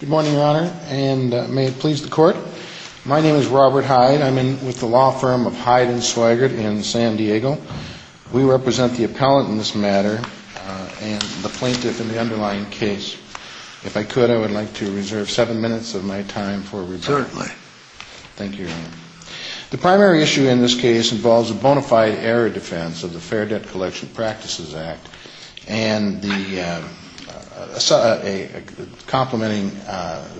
Good morning, Your Honor, and may it please the Court. My name is Robert Hyde. I'm with the law firm of Hyde & Swigert in San Diego. We represent the appellant in this matter and the plaintiff in the underlying case. If I could, I would like to reserve seven minutes of my time for review. Certainly. Thank you, Your Honor. The primary issue in this case involves a bona fide error defense of the Fair Debt Collection Practices Act and the complementing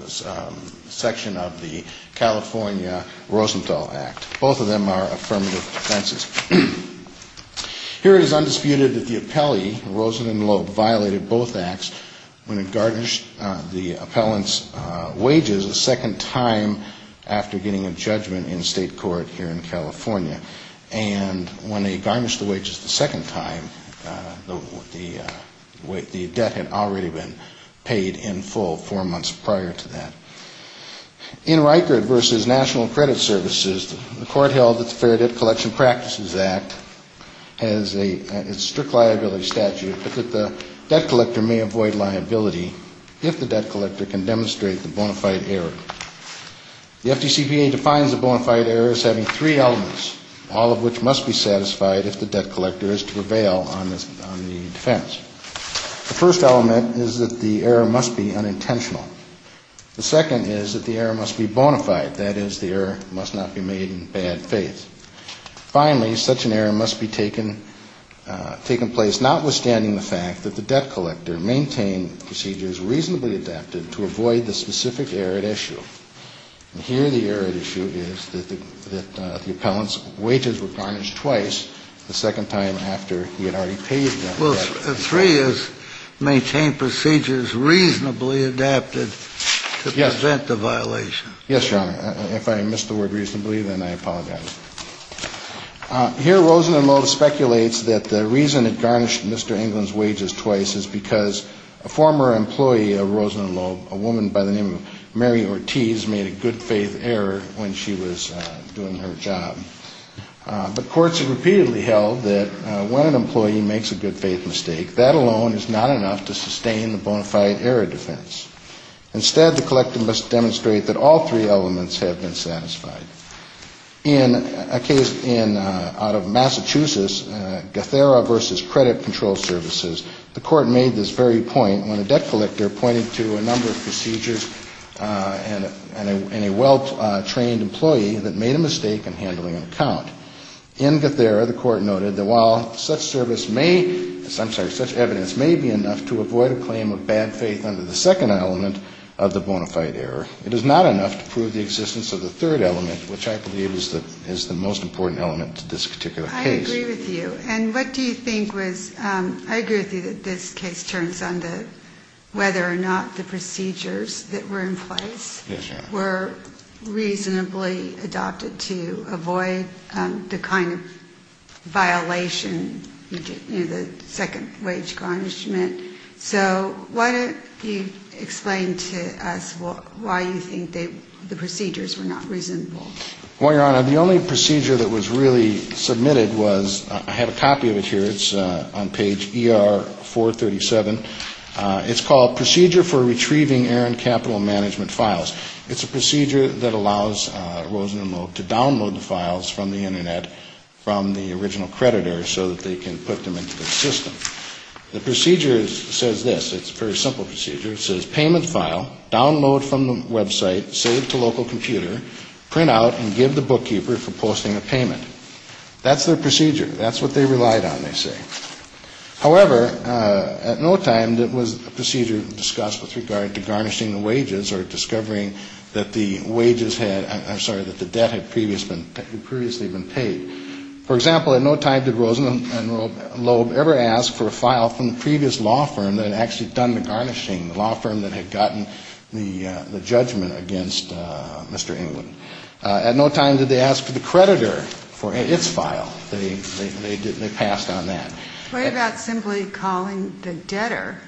section of the California Rosenthal Act. Both of them are affirmative defenses. Here it is undisputed that the appellee, Rosenthal and Loeb, violated both acts when they garnished the appellant's wages a second time after getting a judgment in state court here in California. And when they garnished the wages the second time, the debt had already been paid in full four months prior to that. In Reichert v. National Credit Services, the court held that the Fair Debt Collection Practices Act has a strict liability statute but that the debt collector may avoid liability if the debt collector can demonstrate the bona fide error. The FDCPA defines the bona fide error as having three elements, all of which must be satisfied if the debt collector is to prevail on the defense. The first element is that the error must be unintentional. The second is that the error must be bona fide, that is, the error must not be made in bad faith. Finally, such an error must be taken place notwithstanding the fact that the debt collector maintained procedures reasonably adapted to avoid the specific error at issue. And here the error at issue is that the appellant's wages were garnished twice the second time after he had already paid them. Well, three is maintain procedures reasonably adapted to prevent the violation. Yes, Your Honor. If I missed the word reasonably, then I apologize. Here Rosen and Loeb speculates that the reason it garnished Mr. England's wages twice is because a former employee of Rosen and Loeb, a woman by the name of Mary Ortiz, made a good faith error when she was doing her job. But courts have repeatedly held that when an employee makes a good faith mistake, that alone is not enough to sustain the bona fide error defense. Instead, the collector must demonstrate that all three elements have been satisfied. In a case out of Massachusetts, Guthera v. Credit Control Services, the court made this very point when a debt collector pointed to a number of procedures in a well-trained employee that made a mistake in handling an account. In Guthera, the court noted that while such service may, I'm sorry, such evidence may be enough to avoid a claim of bad faith under the second element of the bona fide error, it is not enough to prove the existence of the third element, which I believe is the most important element to this particular case. I agree with you. And what do you think was, I agree with you that this case turns on the, whether or not the procedures that were in place were reasonably adopted to avoid the kind of violation, you know, the second wage garnishment. So why don't you explain to us why you think the procedures were not reasonable? Well, Your Honor, the only procedure that was really submitted was, I have a copy of it here. It's on page ER-437. It's called Procedure for Retrieving Errant Capital Management Files. It's a procedure that allows Rosen and Loeb to download the files from the Internet from the original creditor so that they can put them into the system. The procedure says this. It's a very simple procedure. It says payment file, download from the website, save to local computer, print out and give the bookkeeper for posting a payment. That's their procedure. That's what they relied on, they say. However, at no time was a procedure discussed with regard to garnishing the wages or discovering that the wages had, I'm sorry, that the debt had previously been paid. For example, at no time did Rosen and Loeb ever ask for a file from the previous law firm that had actually done the garnishing, the law firm that had gotten the judgment against Mr. Englund. At no time did they ask for the creditor for its file. They passed on that. What about simply calling the debtor?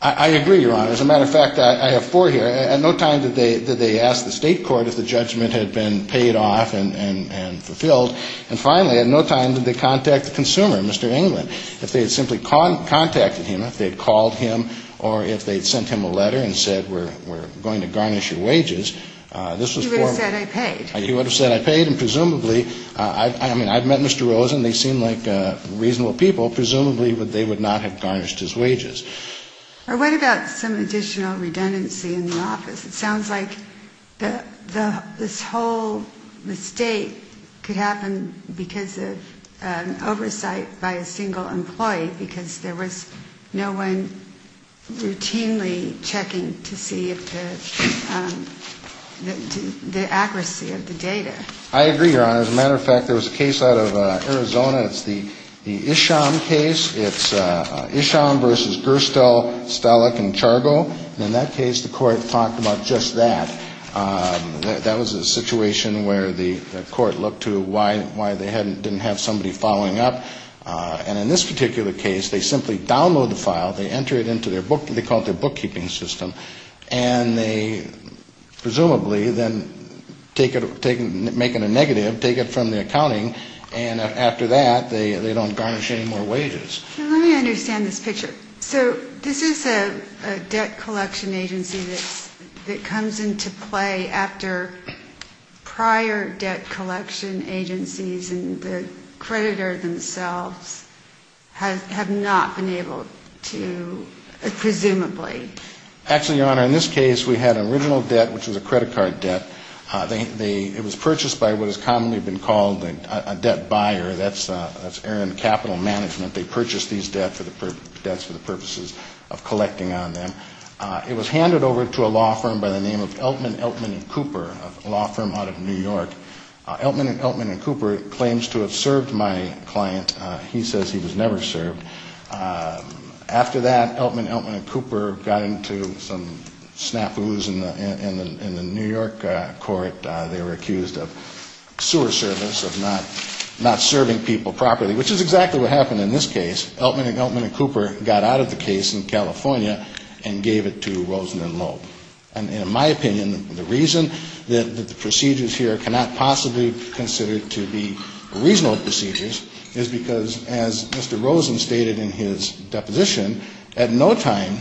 I agree, Your Honor. As a matter of fact, I have four here. At no time did they ask the state court if the judgment had been paid off and fulfilled. And finally, at no time did they contact the consumer, Mr. Englund. If they had simply contacted him, if they had called him or if they had sent him a letter and said we're going to garnish your wages, this was formal. You would have said I paid. You would have said I paid, and presumably, I mean, I've met Mr. Rosen. They seem like reasonable people. Presumably, they would not have garnished his wages. What about some additional redundancy in the office? I agree, Your Honor. As a matter of fact, there was a case out of Arizona. It's the Isham case. It's Isham v. Gerstle, Stalek, and Chargo. And in that case, the court talked about the redundancy of the office. We're going to do it. We're going to do it. That was a situation where the court looked to why they didn't have somebody following up. And in this particular case, they simply download the file, they enter it into their book, they call it their bookkeeping system, and they presumably then take it, make it a negative, take it from the accounting, and after that, they don't garnish any more wages. Let me understand this picture. So this is a debt collection agency that comes into play after prior debt collection agencies and the creditor themselves have not been able to, presumably. Actually, Your Honor, in this case, we had an original debt, which was a credit card debt. It was purchased by what has commonly been called a debt buyer. That's Aaron Capital Management. They purchased these debts for the purposes of collecting on them. It was handed over to a law firm by the name of Eltman, Eltman & Cooper, a law firm out of New York. Eltman & Cooper claims to have served my client. He says he was never served. After that, Eltman, Eltman & Cooper got into some snafus in the New York court. They were accused of sewer service, of not serving people properly, which is exactly what happened. In this case, Eltman & Cooper got out of the case in California and gave it to Rosen & Loeb. And in my opinion, the reason that the procedures here cannot possibly be considered to be reasonable procedures is because, as Mr. Rosen stated in his deposition, at no time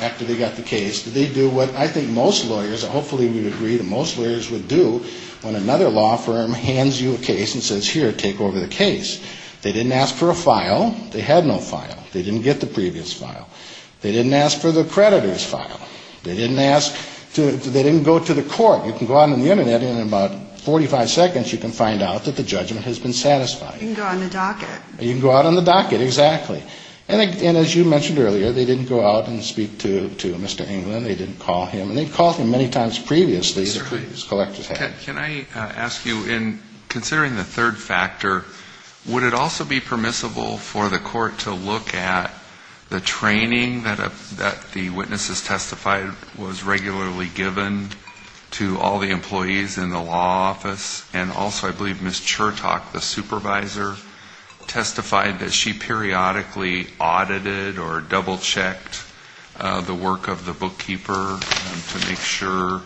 after they got the case, did they do what I think most lawyers, hopefully we would agree that most lawyers would do, when another law firm hands you a case and says, here, take over the case. They didn't ask for a file. They had no file. They didn't get the previous file. They didn't ask for the creditor's file. They didn't ask to, they didn't go to the court. You can go on the Internet and in about 45 seconds you can find out that the judgment has been satisfied. You can go out on the docket. You can go out on the docket, exactly. And as you mentioned earlier, they didn't go out and speak to Mr. England. They didn't call him. And they called him many times previously. Can I ask you, in considering the third factor, would it also be permissible for the court to look at the training that the witnesses testified was regularly given to all the employees in the law office, and also I believe Ms. Chertok, the supervisor, testified that she periodically audited or double-checked the work of the bookkeeper to make sure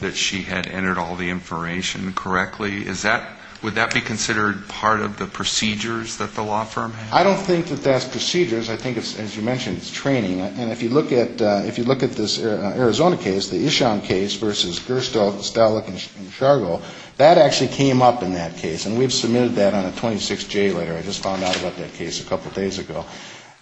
that she had entered all the information correctly. Is that, would that be considered part of the procedures that the law firm has? I don't think that that's procedures. I think, as you mentioned, it's training. And if you look at, if you look at this Arizona case, the Ishan case versus Gerstow, Stalik, and Shargo, that actually came up in that case. And we've submitted that on a 26J letter. I just found out about that case a couple days ago.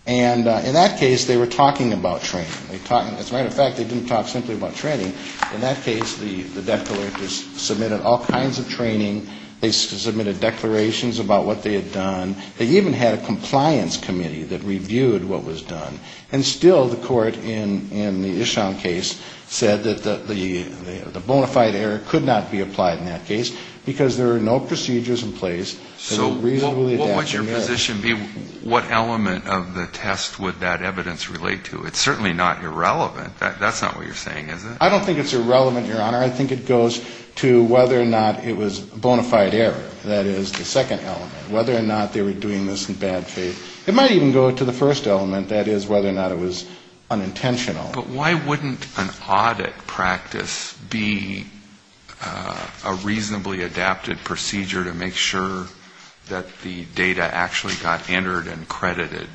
And in that case, they were talking about training. As a matter of fact, they didn't talk simply about training. In that case, the declarators submitted all kinds of training. They submitted declarations about what they had done. They even had a compliance committee that reviewed what was done. And still, the court in the Ishan case said that the bona fide error could not be applied in that case, because there are no procedures in place that would reasonably adapt. What would your position be? What element of the test would that evidence relate to? It's certainly not irrelevant. That's not what you're saying, is it? I don't think it's irrelevant, Your Honor. I think it goes to whether or not it was bona fide error. That is the second element. Whether or not they were doing this in bad faith. It might even go to the first element, that is whether or not it was unintentional. But why wouldn't an audit practice be a reasonably adapted procedure to make sure that the data actually got entered and credited?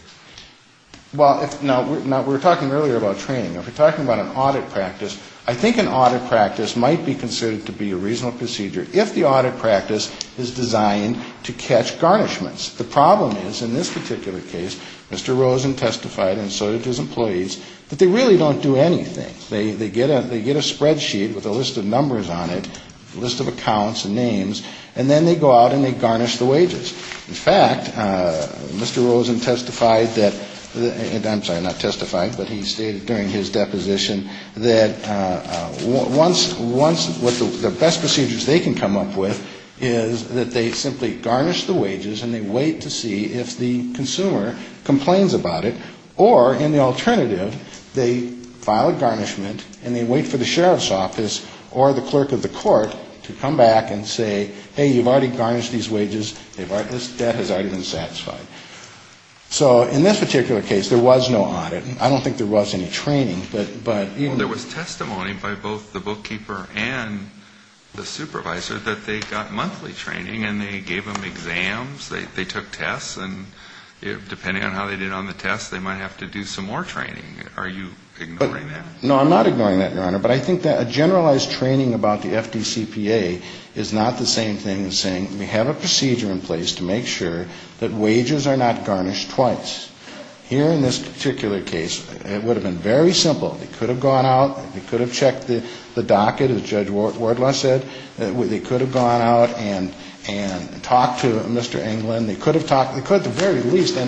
Well, now, we were talking earlier about training. If we're talking about an audit practice, I think an audit practice might be considered to be a reasonable procedure, if the audit practice is designed to catch garnishments. The problem is, in this particular case, Mr. Rosen testified, and so did his employees, that they really don't do anything. They get a spreadsheet with a list of numbers on it, a list of accounts and names, and then they go out and they garnish the wages. In fact, Mr. Rosen testified that, I'm sorry, not testified, but he stated during his deposition, that once, the best procedures they can come up with is that they simply garnish the wages and they wait to see if the consumer complains about it, or, in the alternative, they file a garnishment and they wait for the sheriff's office or the clerk of the court to come back and say, hey, you've already garnished these wages, this debt has already been satisfied. So in this particular case, there was no audit. I don't think there was any training, but even... Well, there was testimony by both the bookkeeper and the supervisor that they got monthly training and they gave them exams, they took tests, and depending on how they did on the tests, they might have to do some more training. Are you ignoring that? No, I'm not ignoring that, Your Honor, but I think that a generalized training about the FDCPA is not the same thing as saying, we have a procedure in place to make sure that wages are not garnished twice. Here, in this particular case, it would have been very simple. They could have gone out, they could have checked the docket, as Judge Wardlaw said, they could have gone out and talked to Mr. Englund, they could have talked, they could at the very least, I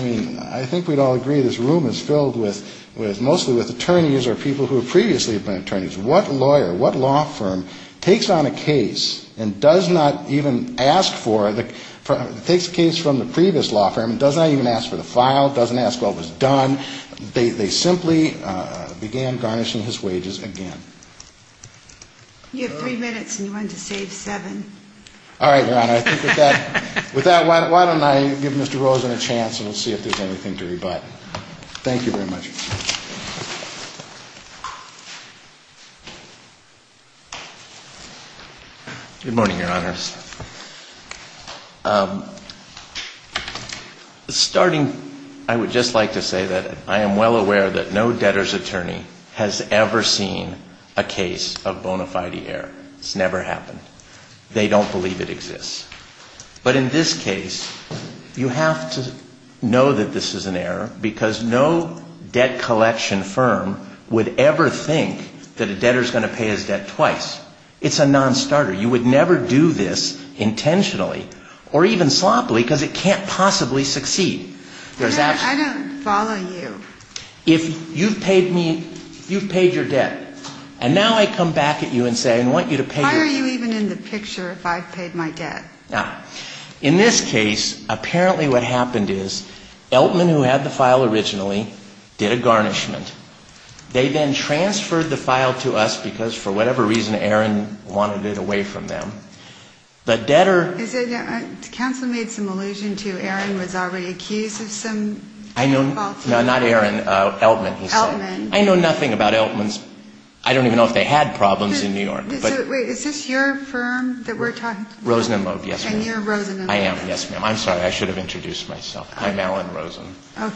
mean, I think we'd all agree this room is filled with mostly with attorneys or people who have previously been attorneys. What lawyer, what law firm takes on a case and does not even ask for, takes a case from the previous law firm and does not even ask for the following? Doesn't file, doesn't ask what was done. They simply began garnishing his wages again. You have three minutes and you wanted to save seven. All right, Your Honor, I think with that, why don't I give Mr. Rosen a chance and we'll see if there's anything to rebut. Thank you very much. Good morning, Your Honors. Starting, I would just like to say that I am well aware that no debtor's attorney has ever seen a case of bona fide error. It's never happened. They don't believe it exists. But in this case, you have to know that this is an error because no debtor's attorney has ever seen a case of bona fide error. No debt collection firm would ever think that a debtor's going to pay his debt twice. It's a nonstarter. You would never do this intentionally or even sloppily because it can't possibly succeed. I don't follow you. If you've paid me, you've paid your debt. And now I come back at you and say I want you to pay your debt. Why are you even in the picture if I've paid my debt? In this case, apparently what happened is Eltman, who had the file originally, did a garnishment. They then transferred the file to us because for whatever reason, Aaron wanted it away from them. But debtor... Counsel made some allusion to Aaron was already accused of some... No, not Aaron, Eltman. I know nothing about Eltmans. I don't even know if they had problems in New York. Wait, is this your firm that we're talking about? Rosen and Loeb, yes, ma'am. And you're Rosen and Loeb. I am, yes, ma'am. I'm sorry. I should have introduced myself. I'm Alan Rosen. I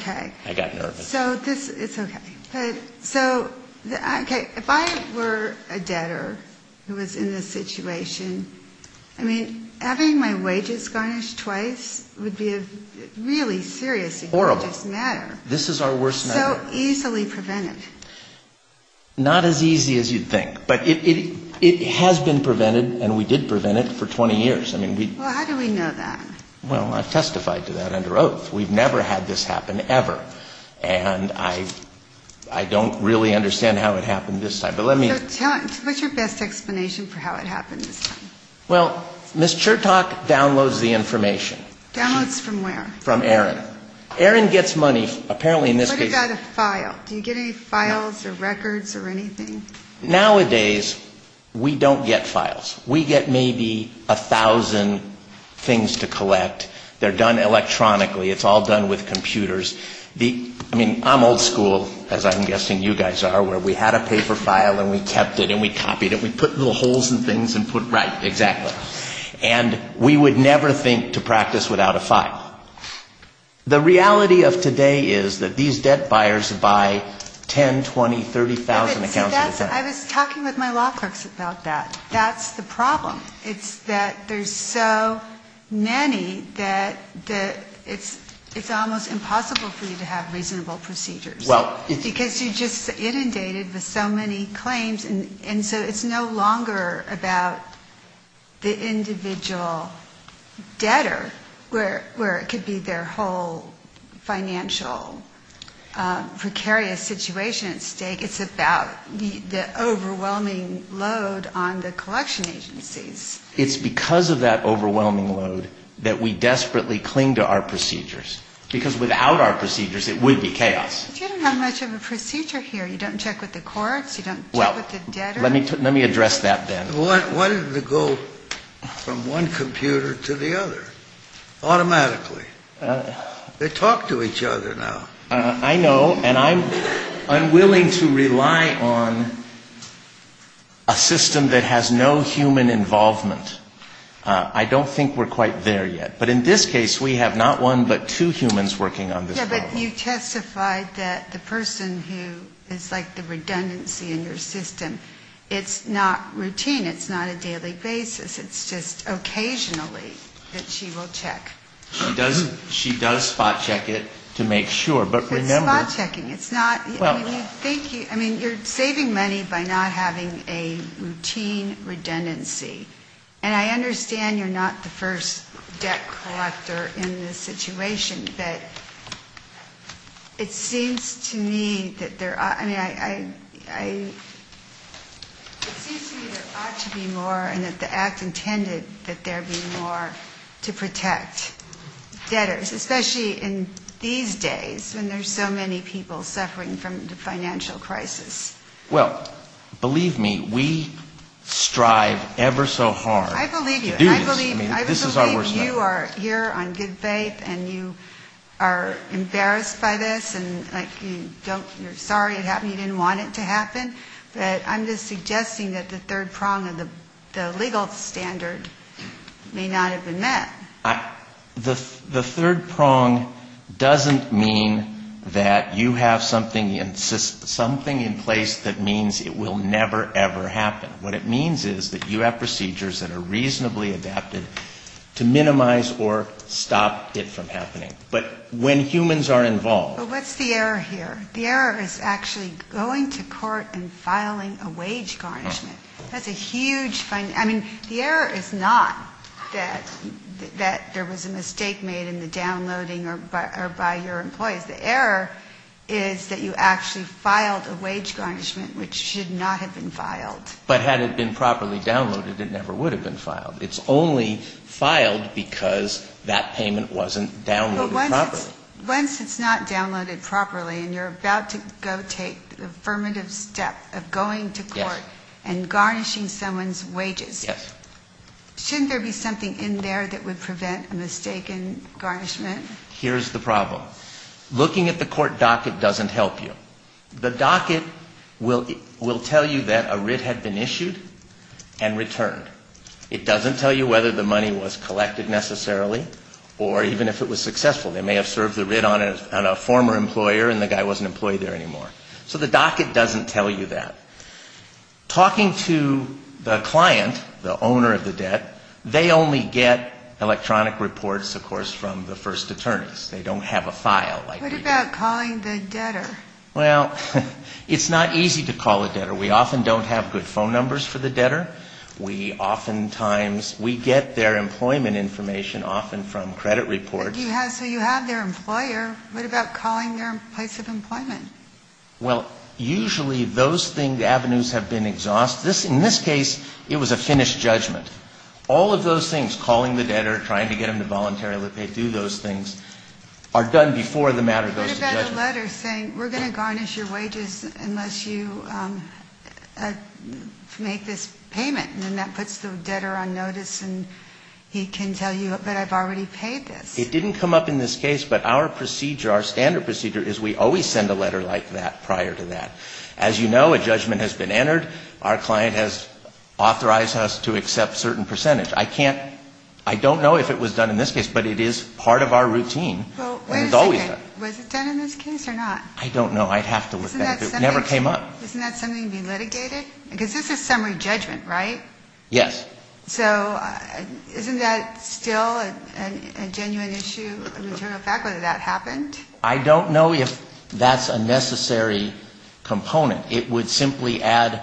got nervous. Okay. So if I were a debtor who was in this situation, I mean, having my wages garnished twice would be a really serious... Horrible. This is our worst nightmare. How easily prevented? Not as easy as you'd think. But it has been prevented, and we did prevent it for 20 years. Well, how do we know that? Well, I've testified to that under oath. We've never had this happen ever. And I don't really understand how it happened this time. So what's your best explanation for how it happened this time? Well, Ms. Chertok downloads the information. Downloads from where? From Erin. Erin gets money, apparently in this case... What about a file? Do you get any files or records or anything? Nowadays, we don't get files. We get maybe a thousand things to collect. They're done electronically. It's all done with computers. I mean, I'm old school, as I'm guessing you guys are, where we had a paper file and we kept it and we copied it and we put little holes in things and put... The reality of today is that these debt buyers buy 10, 20, 30,000 accounts at a time. I was talking with my law clerks about that. That's the problem. It's that there's so many that it's almost impossible for you to have reasonable procedures. Because you're just inundated with so many claims, and so it's no longer about the individual debtor where it comes from. It could be their whole financial precarious situation at stake. It's about the overwhelming load on the collection agencies. It's because of that overwhelming load that we desperately cling to our procedures, because without our procedures, it would be chaos. But you don't have much of a procedure here. You don't check with the courts. You don't check with the debtor. Well, let me address that then. Why did it go from one computer to the other automatically? They talk to each other now. I know, and I'm unwilling to rely on a system that has no human involvement. I don't think we're quite there yet. But in this case, we have not one but two humans working on this problem. Yeah, but you testified that the person who is like the redundancy in your system, it's not routine. It's not a daily basis. It's just occasionally that she will check. She does spot check it to make sure, but remember... It's not spot checking. It's not. I mean, you're saving money by not having a routine redundancy. And I understand you're not the first debt collector in this situation. But it seems to me that there ought to be more and that the act intended that there be more to protect debtors, especially in these days when there's so many people suffering from the financial crisis. Well, believe me, we strive ever so hard to do this. I believe you are here on good faith and you are embarrassed by this and like you don't, you're sorry it happened, you didn't want it to happen. But I'm just suggesting that the third prong of the legal standard may not have been met. The third prong doesn't mean that you have something in place that means it will never, ever happen. What it means is that you have procedures that are reasonably adapted to minimize or stop it from happening. But when humans are involved... But what's the error here? The error is actually going to court and filing a wage garnishment. That's a huge, I mean, the error is not that there was a mistake made in the downloading or by your employees. The error is that you actually filed a wage garnishment which should not have been filed. Had it been properly downloaded, it never would have been filed. It's only filed because that payment wasn't downloaded properly. Once it's not downloaded properly and you're about to go take the affirmative step of going to court and garnishing someone's wages, shouldn't there be something in there that would prevent a mistake in garnishment? Here's the problem. Looking at the court docket doesn't help you. The docket will tell you that a writ had been issued and returned. It doesn't tell you whether the money was collected necessarily or even if it was successful. They may have served the writ on a former employer and the guy wasn't employed there anymore. So the docket doesn't tell you that. Talking to the client, the owner of the debt, they only get electronic reports, of course, from the first attorneys. They don't have a file. What about calling the debtor? Well, it's not easy to call a debtor. We often don't have good phone numbers for the debtor. We oftentimes, we get their employment information often from credit reports. So you have their employer. What about calling their place of employment? Well, usually those avenues have been exhausted. In this case, it was a finished judgment. All of those things, calling the debtor, trying to get them to voluntarily pay, do those things, are done before the matter goes to judgment. What about a letter saying we're going to garnish your wages unless you make this payment? And then that puts the debtor on notice and he can tell you, but I've already paid this. It didn't come up in this case, but our standard procedure is we always send a letter like that prior to that. As you know, a judgment has been entered. Our client has authorized us to accept certain percentage. I don't know if it was done in this case, but it is part of our routine. Was it done in this case or not? I don't know. I'd have to look at it. It never came up. Isn't that something to be litigated? Because this is summary judgment, right? Yes. So isn't that still a genuine issue, a material fact, whether that happened? I don't know if that's a necessary component. It would simply add,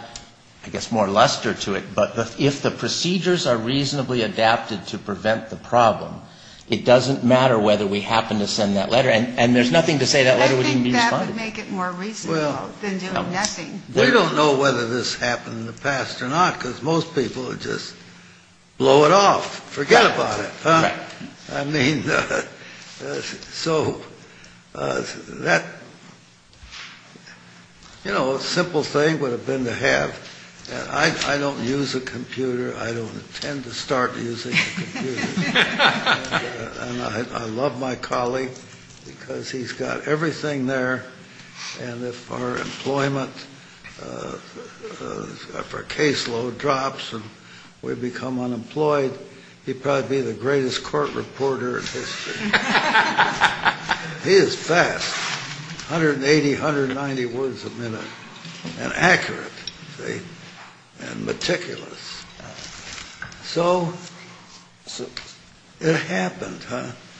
I guess, more luster to it. But if the procedures are reasonably adapted to prevent the problem, it doesn't matter whether we happen to send that letter. And there's nothing to say that letter would even be responded to. I think that would make it more reasonable than doing nothing. Well, we don't know whether this happened in the past or not, because most people would just blow it off, forget about it. Right. I mean, so that, you know, a simple thing would have been to have. I don't use a computer. I don't intend to start using a computer. And I love my colleague because he's got everything there. And if our employment, if our caseload drops and we become unemployed, he'd probably be the greatest court reporter in history. He is fast, 180, 190 words a minute, and accurate and meticulous. So it happened.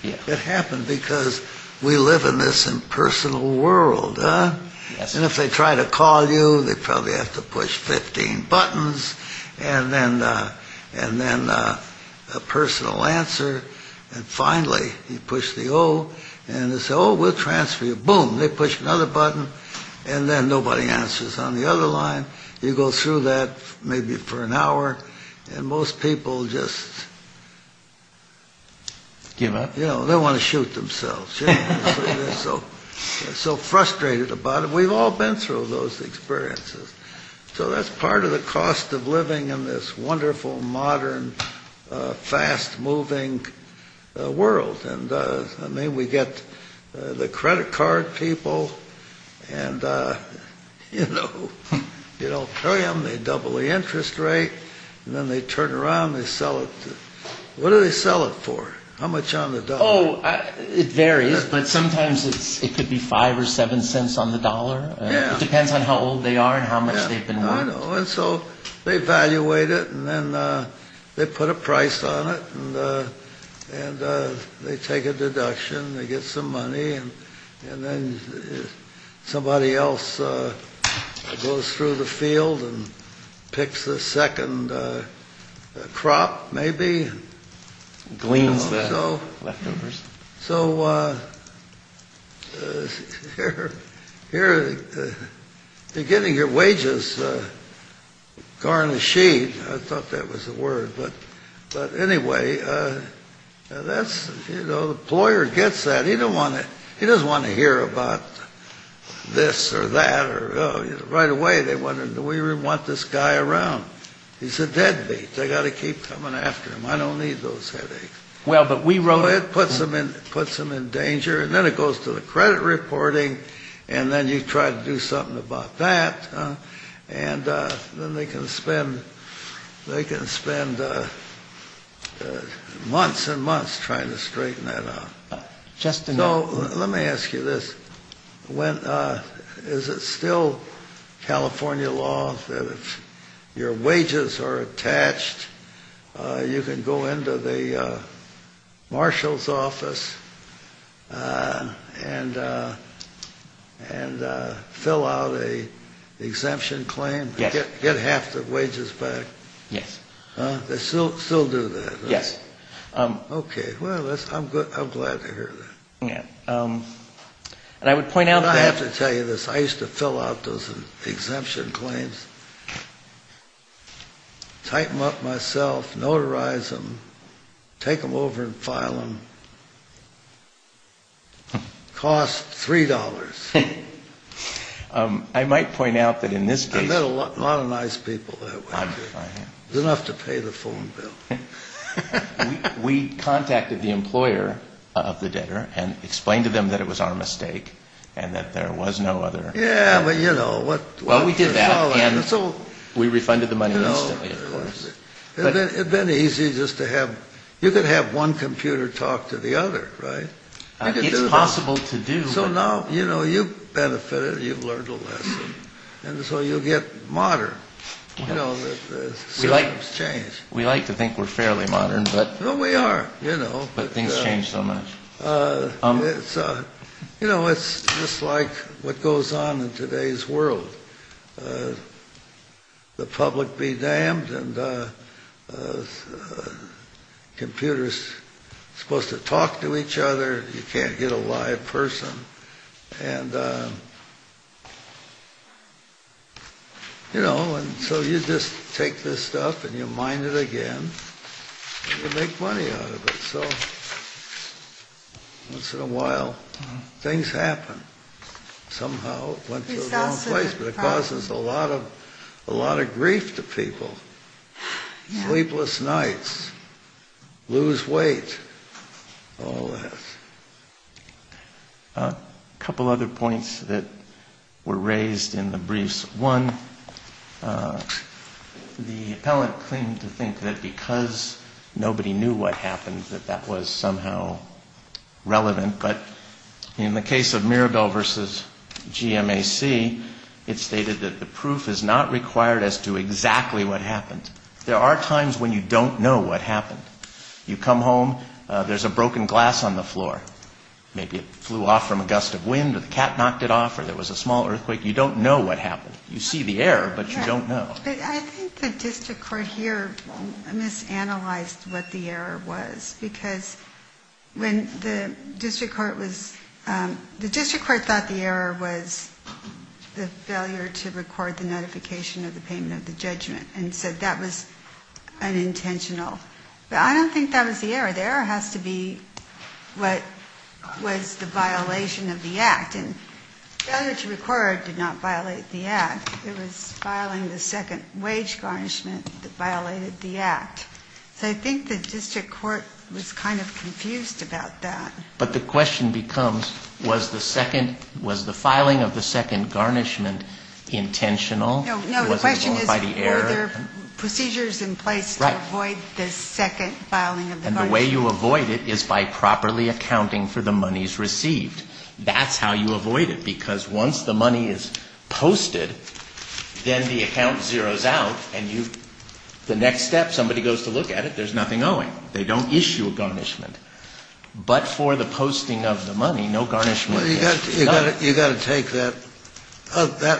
It happened because we live in this impersonal world. And if they try to call you, they probably have to push 15 buttons. And then a personal answer. And finally, you push the O and they say, oh, we'll transfer you. And boom, they push another button and then nobody answers on the other line. You go through that maybe for an hour. And most people just, you know, they want to shoot themselves. So frustrated about it. We've all been through those experiences. So that's part of the cost of living in this wonderful, modern, fast-moving world. And I mean, we get the credit card people and, you know, you don't pay them. They double the interest rate. And then they turn around and they sell it. What do they sell it for? How much on the dollar? It varies, but sometimes it could be five or seven cents on the dollar. It depends on how old they are and how much they've been working. And so they evaluate it and then they put a price on it. And they take a deduction. They get some money. And then somebody else goes through the field and picks the second crop, maybe. Gleans the leftovers. So here, beginning your wages, garnished. I thought that was the word. But anyway, that's, you know, the employer gets that. He doesn't want to hear about this or that. Right away, they wonder, do we want this guy around? He's a deadbeat. They got to keep coming after him. I don't need those headaches. Well, but we wrote it puts them in puts them in danger. And then it goes to the credit reporting. And then you try to do something about that. And then they can spend. They can spend months and months trying to straighten that out. So let me ask you this. Is it still California law that if your wages are attached, you can go into the marshal's office and fill out an exemption claim? Yes. Get half the wages back? Yes. I'm glad to hear that. I have to tell you this. I used to fill out those exemption claims, type them up myself, notarize them, take them over and file them. Cost $3. I met a lot of nice people that way. Enough to pay the phone bill. We contacted the employer of the debtor and explained to them that it was our mistake and that there was no other. Yeah, but you know what? We refunded the money instantly, of course. It had been easy just to have you could have one computer talk to the other, right? It's possible to do. So now you've benefited, you've learned a lesson, and so you get modern. We like to think we're fairly modern. But things change so much. It's just like what goes on in today's world. The public be damned, and computers are supposed to talk to each other. You can't get a live person. And so you just take this stuff and you mine it again. You make money out of it. And so once in a while things happen. Somehow it went to the wrong place. But it causes a lot of grief to people. Sleepless nights, lose weight, all that. A couple other points that were raised in the briefs. One, the appellant claimed to think that because nobody knew what happened, that that was somehow relevant. But in the case of Mirabel v. GMAC, it stated that the proof is not required as to exactly what happened. There are times when you don't know what happened. You come home, there's a broken glass on the floor. Maybe it flew off from a gust of wind or the cat knocked it off or there was a small earthquake. You don't know what happened. You see the error, but you don't know. I think the district court here misanalyzed what the error was. Because when the district court was the district court thought the error was the failure to record the notification of the payment of the judgment. And said that was unintentional. But I don't think that was the error. The error has to be what was the violation of the act. Failure to record did not violate the act. It was filing the second wage garnishment that violated the act. So I think the district court was kind of confused about that. But the question becomes, was the second, was the filing of the second garnishment intentional? No, the question is, were there procedures in place to avoid the second filing of the garnishment? And the way you avoid it is by properly accounting for the monies received. That's how you avoid it. Because once the money is posted, then the account zeros out. And the next step, somebody goes to look at it, there's nothing owing. They don't issue a garnishment. But for the posting of the money, no garnishment. You've got to take that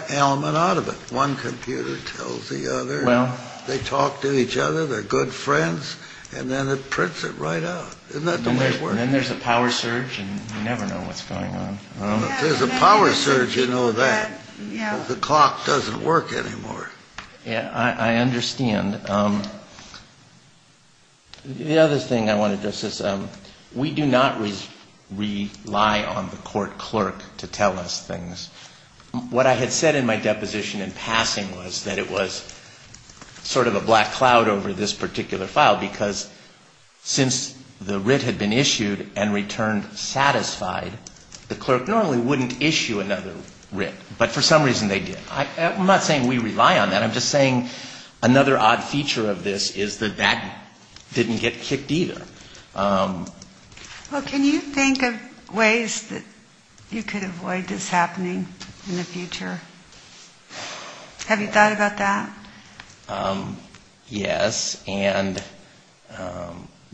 element out of it. One computer tells the other. They talk to each other, they're good friends, and then it prints it right out. Isn't that the way it works? Then there's a power surge, and you never know what's going on. If there's a power surge, you know that. The clock doesn't work anymore. I understand. The other thing I want to address is we do not rely on the court clerk to tell us things. What I had said in my deposition in passing was that it was sort of a black cloud over this particular file, because since the writ had been issued and returned satisfied, the clerk normally wouldn't issue another writ, but for some reason they did. I'm not saying we rely on that. I'm just saying another odd feature of this is that that didn't get kicked either. Can you think of ways that you could avoid this happening in the future? Have you thought about that? Yes.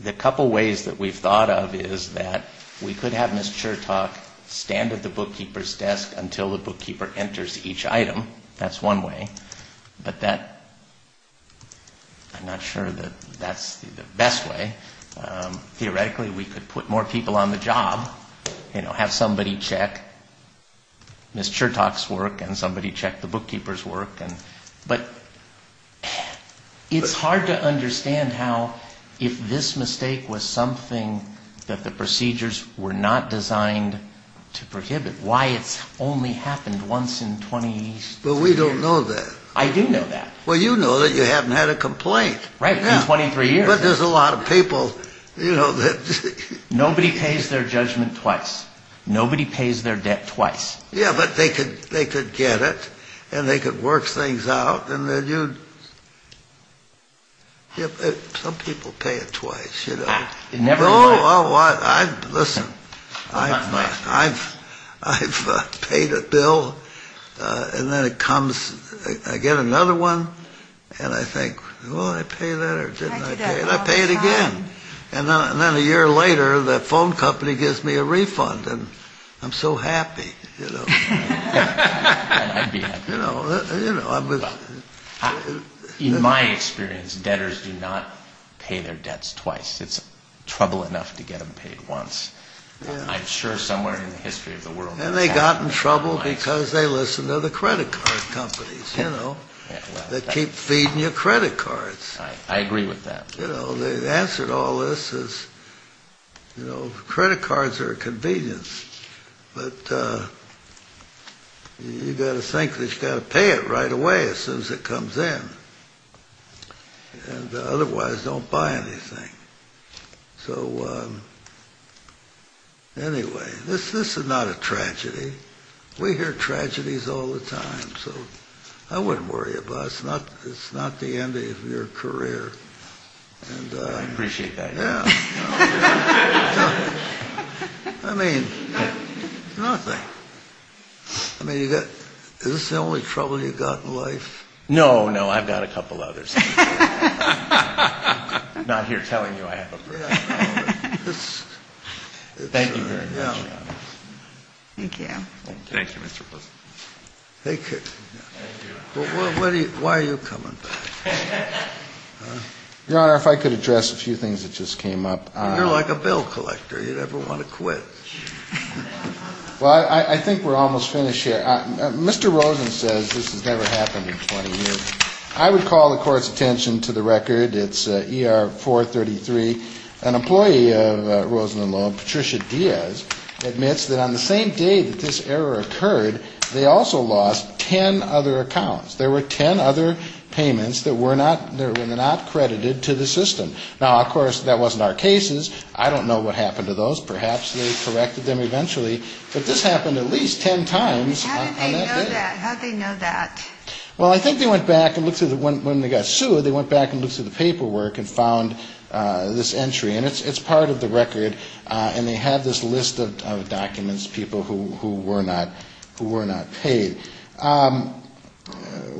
The couple ways that we've thought of is that we could have Ms. Chertok stand at the bookkeeper's desk until the bookkeeper enters each item. That's one way. I'm not sure that that's the best way. Theoretically, we could put more people on the job, have somebody check Ms. Chertok's work and somebody check the bookkeeper's work. But it's hard to understand how if this mistake was something that the procedures were not designed to prohibit, why it's only happened once in 23 years. But we don't know that. I do know that. Well, you know that you haven't had a complaint. Right, in 23 years. Nobody pays their judgment twice. Nobody pays their debt twice. Yeah, but they could get it and they could work things out. Some people pay it twice. Listen, I've paid a bill and then it comes, I get another one and I think, well, did I pay that or didn't I pay it? And I pay it again. And then a year later, the phone company gives me a refund. And I'm so happy. In my experience, debtors do not pay their debts twice. It's trouble enough to get them paid once. I'm sure somewhere in the history of the world. And they got in trouble because they listened to the credit card companies that keep feeding you credit cards. I agree with that. The answer to all this is credit cards are a convenience. But you've got to think that you've got to pay it right away as soon as it comes in. And otherwise don't buy anything. So anyway, this is not a tragedy. We hear tragedies all the time. So I wouldn't worry about it. It's not the end of your career. I appreciate that. I mean, nothing. I mean, is this the only trouble you've got in life? No, no, I've got a couple others. Not here telling you I have a problem. Thank you. Thank you, Mr. Rosen. Why are you coming back? Your Honor, if I could address a few things that just came up. You're like a bill collector. You never want to quit. Well, I think we're almost finished here. Mr. Rosen says this has never happened in 20 years. I would call the Court's attention to the record. It's ER 433. An employee of Rosen & Loeb, Patricia Diaz, admits that on the same day that this error occurred, they also lost ten other accounts. There were ten other payments that were not credited to the system. Now, of course, that wasn't our cases. I don't know what happened to those. Perhaps they corrected them eventually. But this happened at least ten times on that day. How did they know that? Well, I think they went back and looked through the paperwork and found this entry. And it's part of the record. And they have this list of documents, people who were not paid.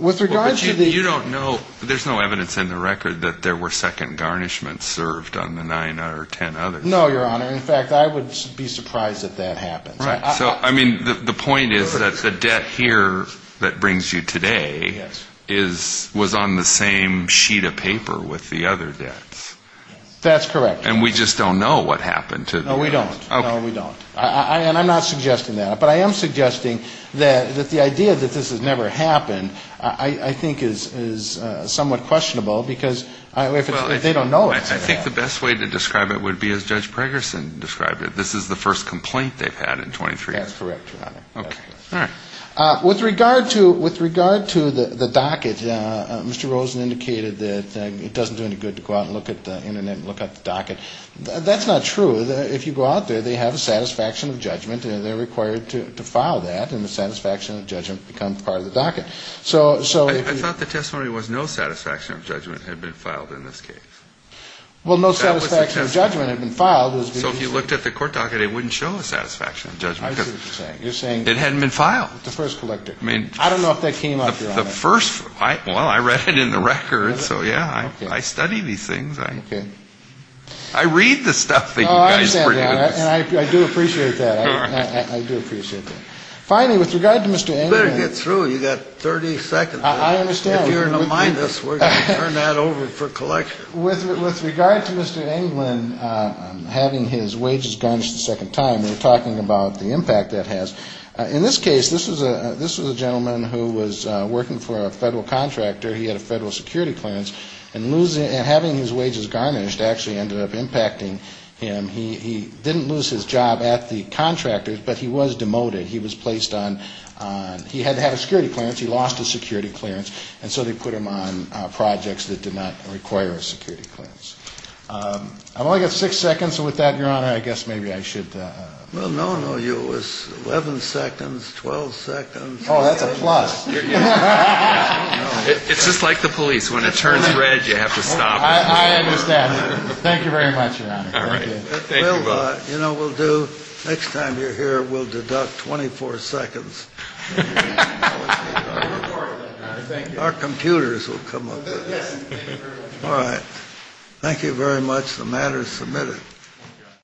There's no evidence in the record that there were second garnishments served on the nine or ten others. No, Your Honor. In fact, I would be surprised if that happened. The point is that the debt here that brings you today was on the same sheet of paper with the other debts. That's correct. And we just don't know what happened. No, we don't. And I'm not suggesting that. But I am suggesting that the idea that this has never happened I think is somewhat questionable, because if they don't know it. I think the best way to describe it would be as Judge Pregerson described it. This is the first complaint they've had in 23 years. That's correct, Your Honor. With regard to the docket, Mr. Rosen indicated that it doesn't do any good to go out and look at the Internet and look at the docket. That's not true. If you go out there, they have a satisfaction of judgment, and they're required to file that, and the satisfaction of judgment becomes part of the docket. I thought the testimony was no satisfaction of judgment had been filed in this case. Well, no satisfaction of judgment had been filed. So if you looked at the court docket, it wouldn't show a satisfaction of judgment. I see what you're saying. It hadn't been filed. I don't know if that came up, Your Honor. Well, I read it in the records, so, yeah, I study these things. I read the stuff that you guys produce. Oh, I understand that, and I do appreciate that. I do appreciate that. Finally, with regard to Mr. Englund. You better get through. You've got 30 seconds. I understand. With regard to Mr. Englund having his wages garnished a second time, we're talking about the impact that has. In this case, this was a gentleman who was working for a Federal contractor. He had a Federal security clearance, and having his wages garnished actually ended up impacting him. He didn't lose his job at the contractor's, but he was demoted. He was placed on he had to have a security clearance. He lost his security clearance, and so they put him on projects that did not require a security clearance. I've only got six seconds, so with that, Your Honor, I guess maybe I should. Well, no, no, you was 11 seconds, 12 seconds. Oh, that's a plus. It's just like the police. When it turns red, you have to stop. I understand. Thank you very much, Your Honor. You know, we'll do next time you're here, we'll deduct 24 seconds. I think our computers will come up. All right.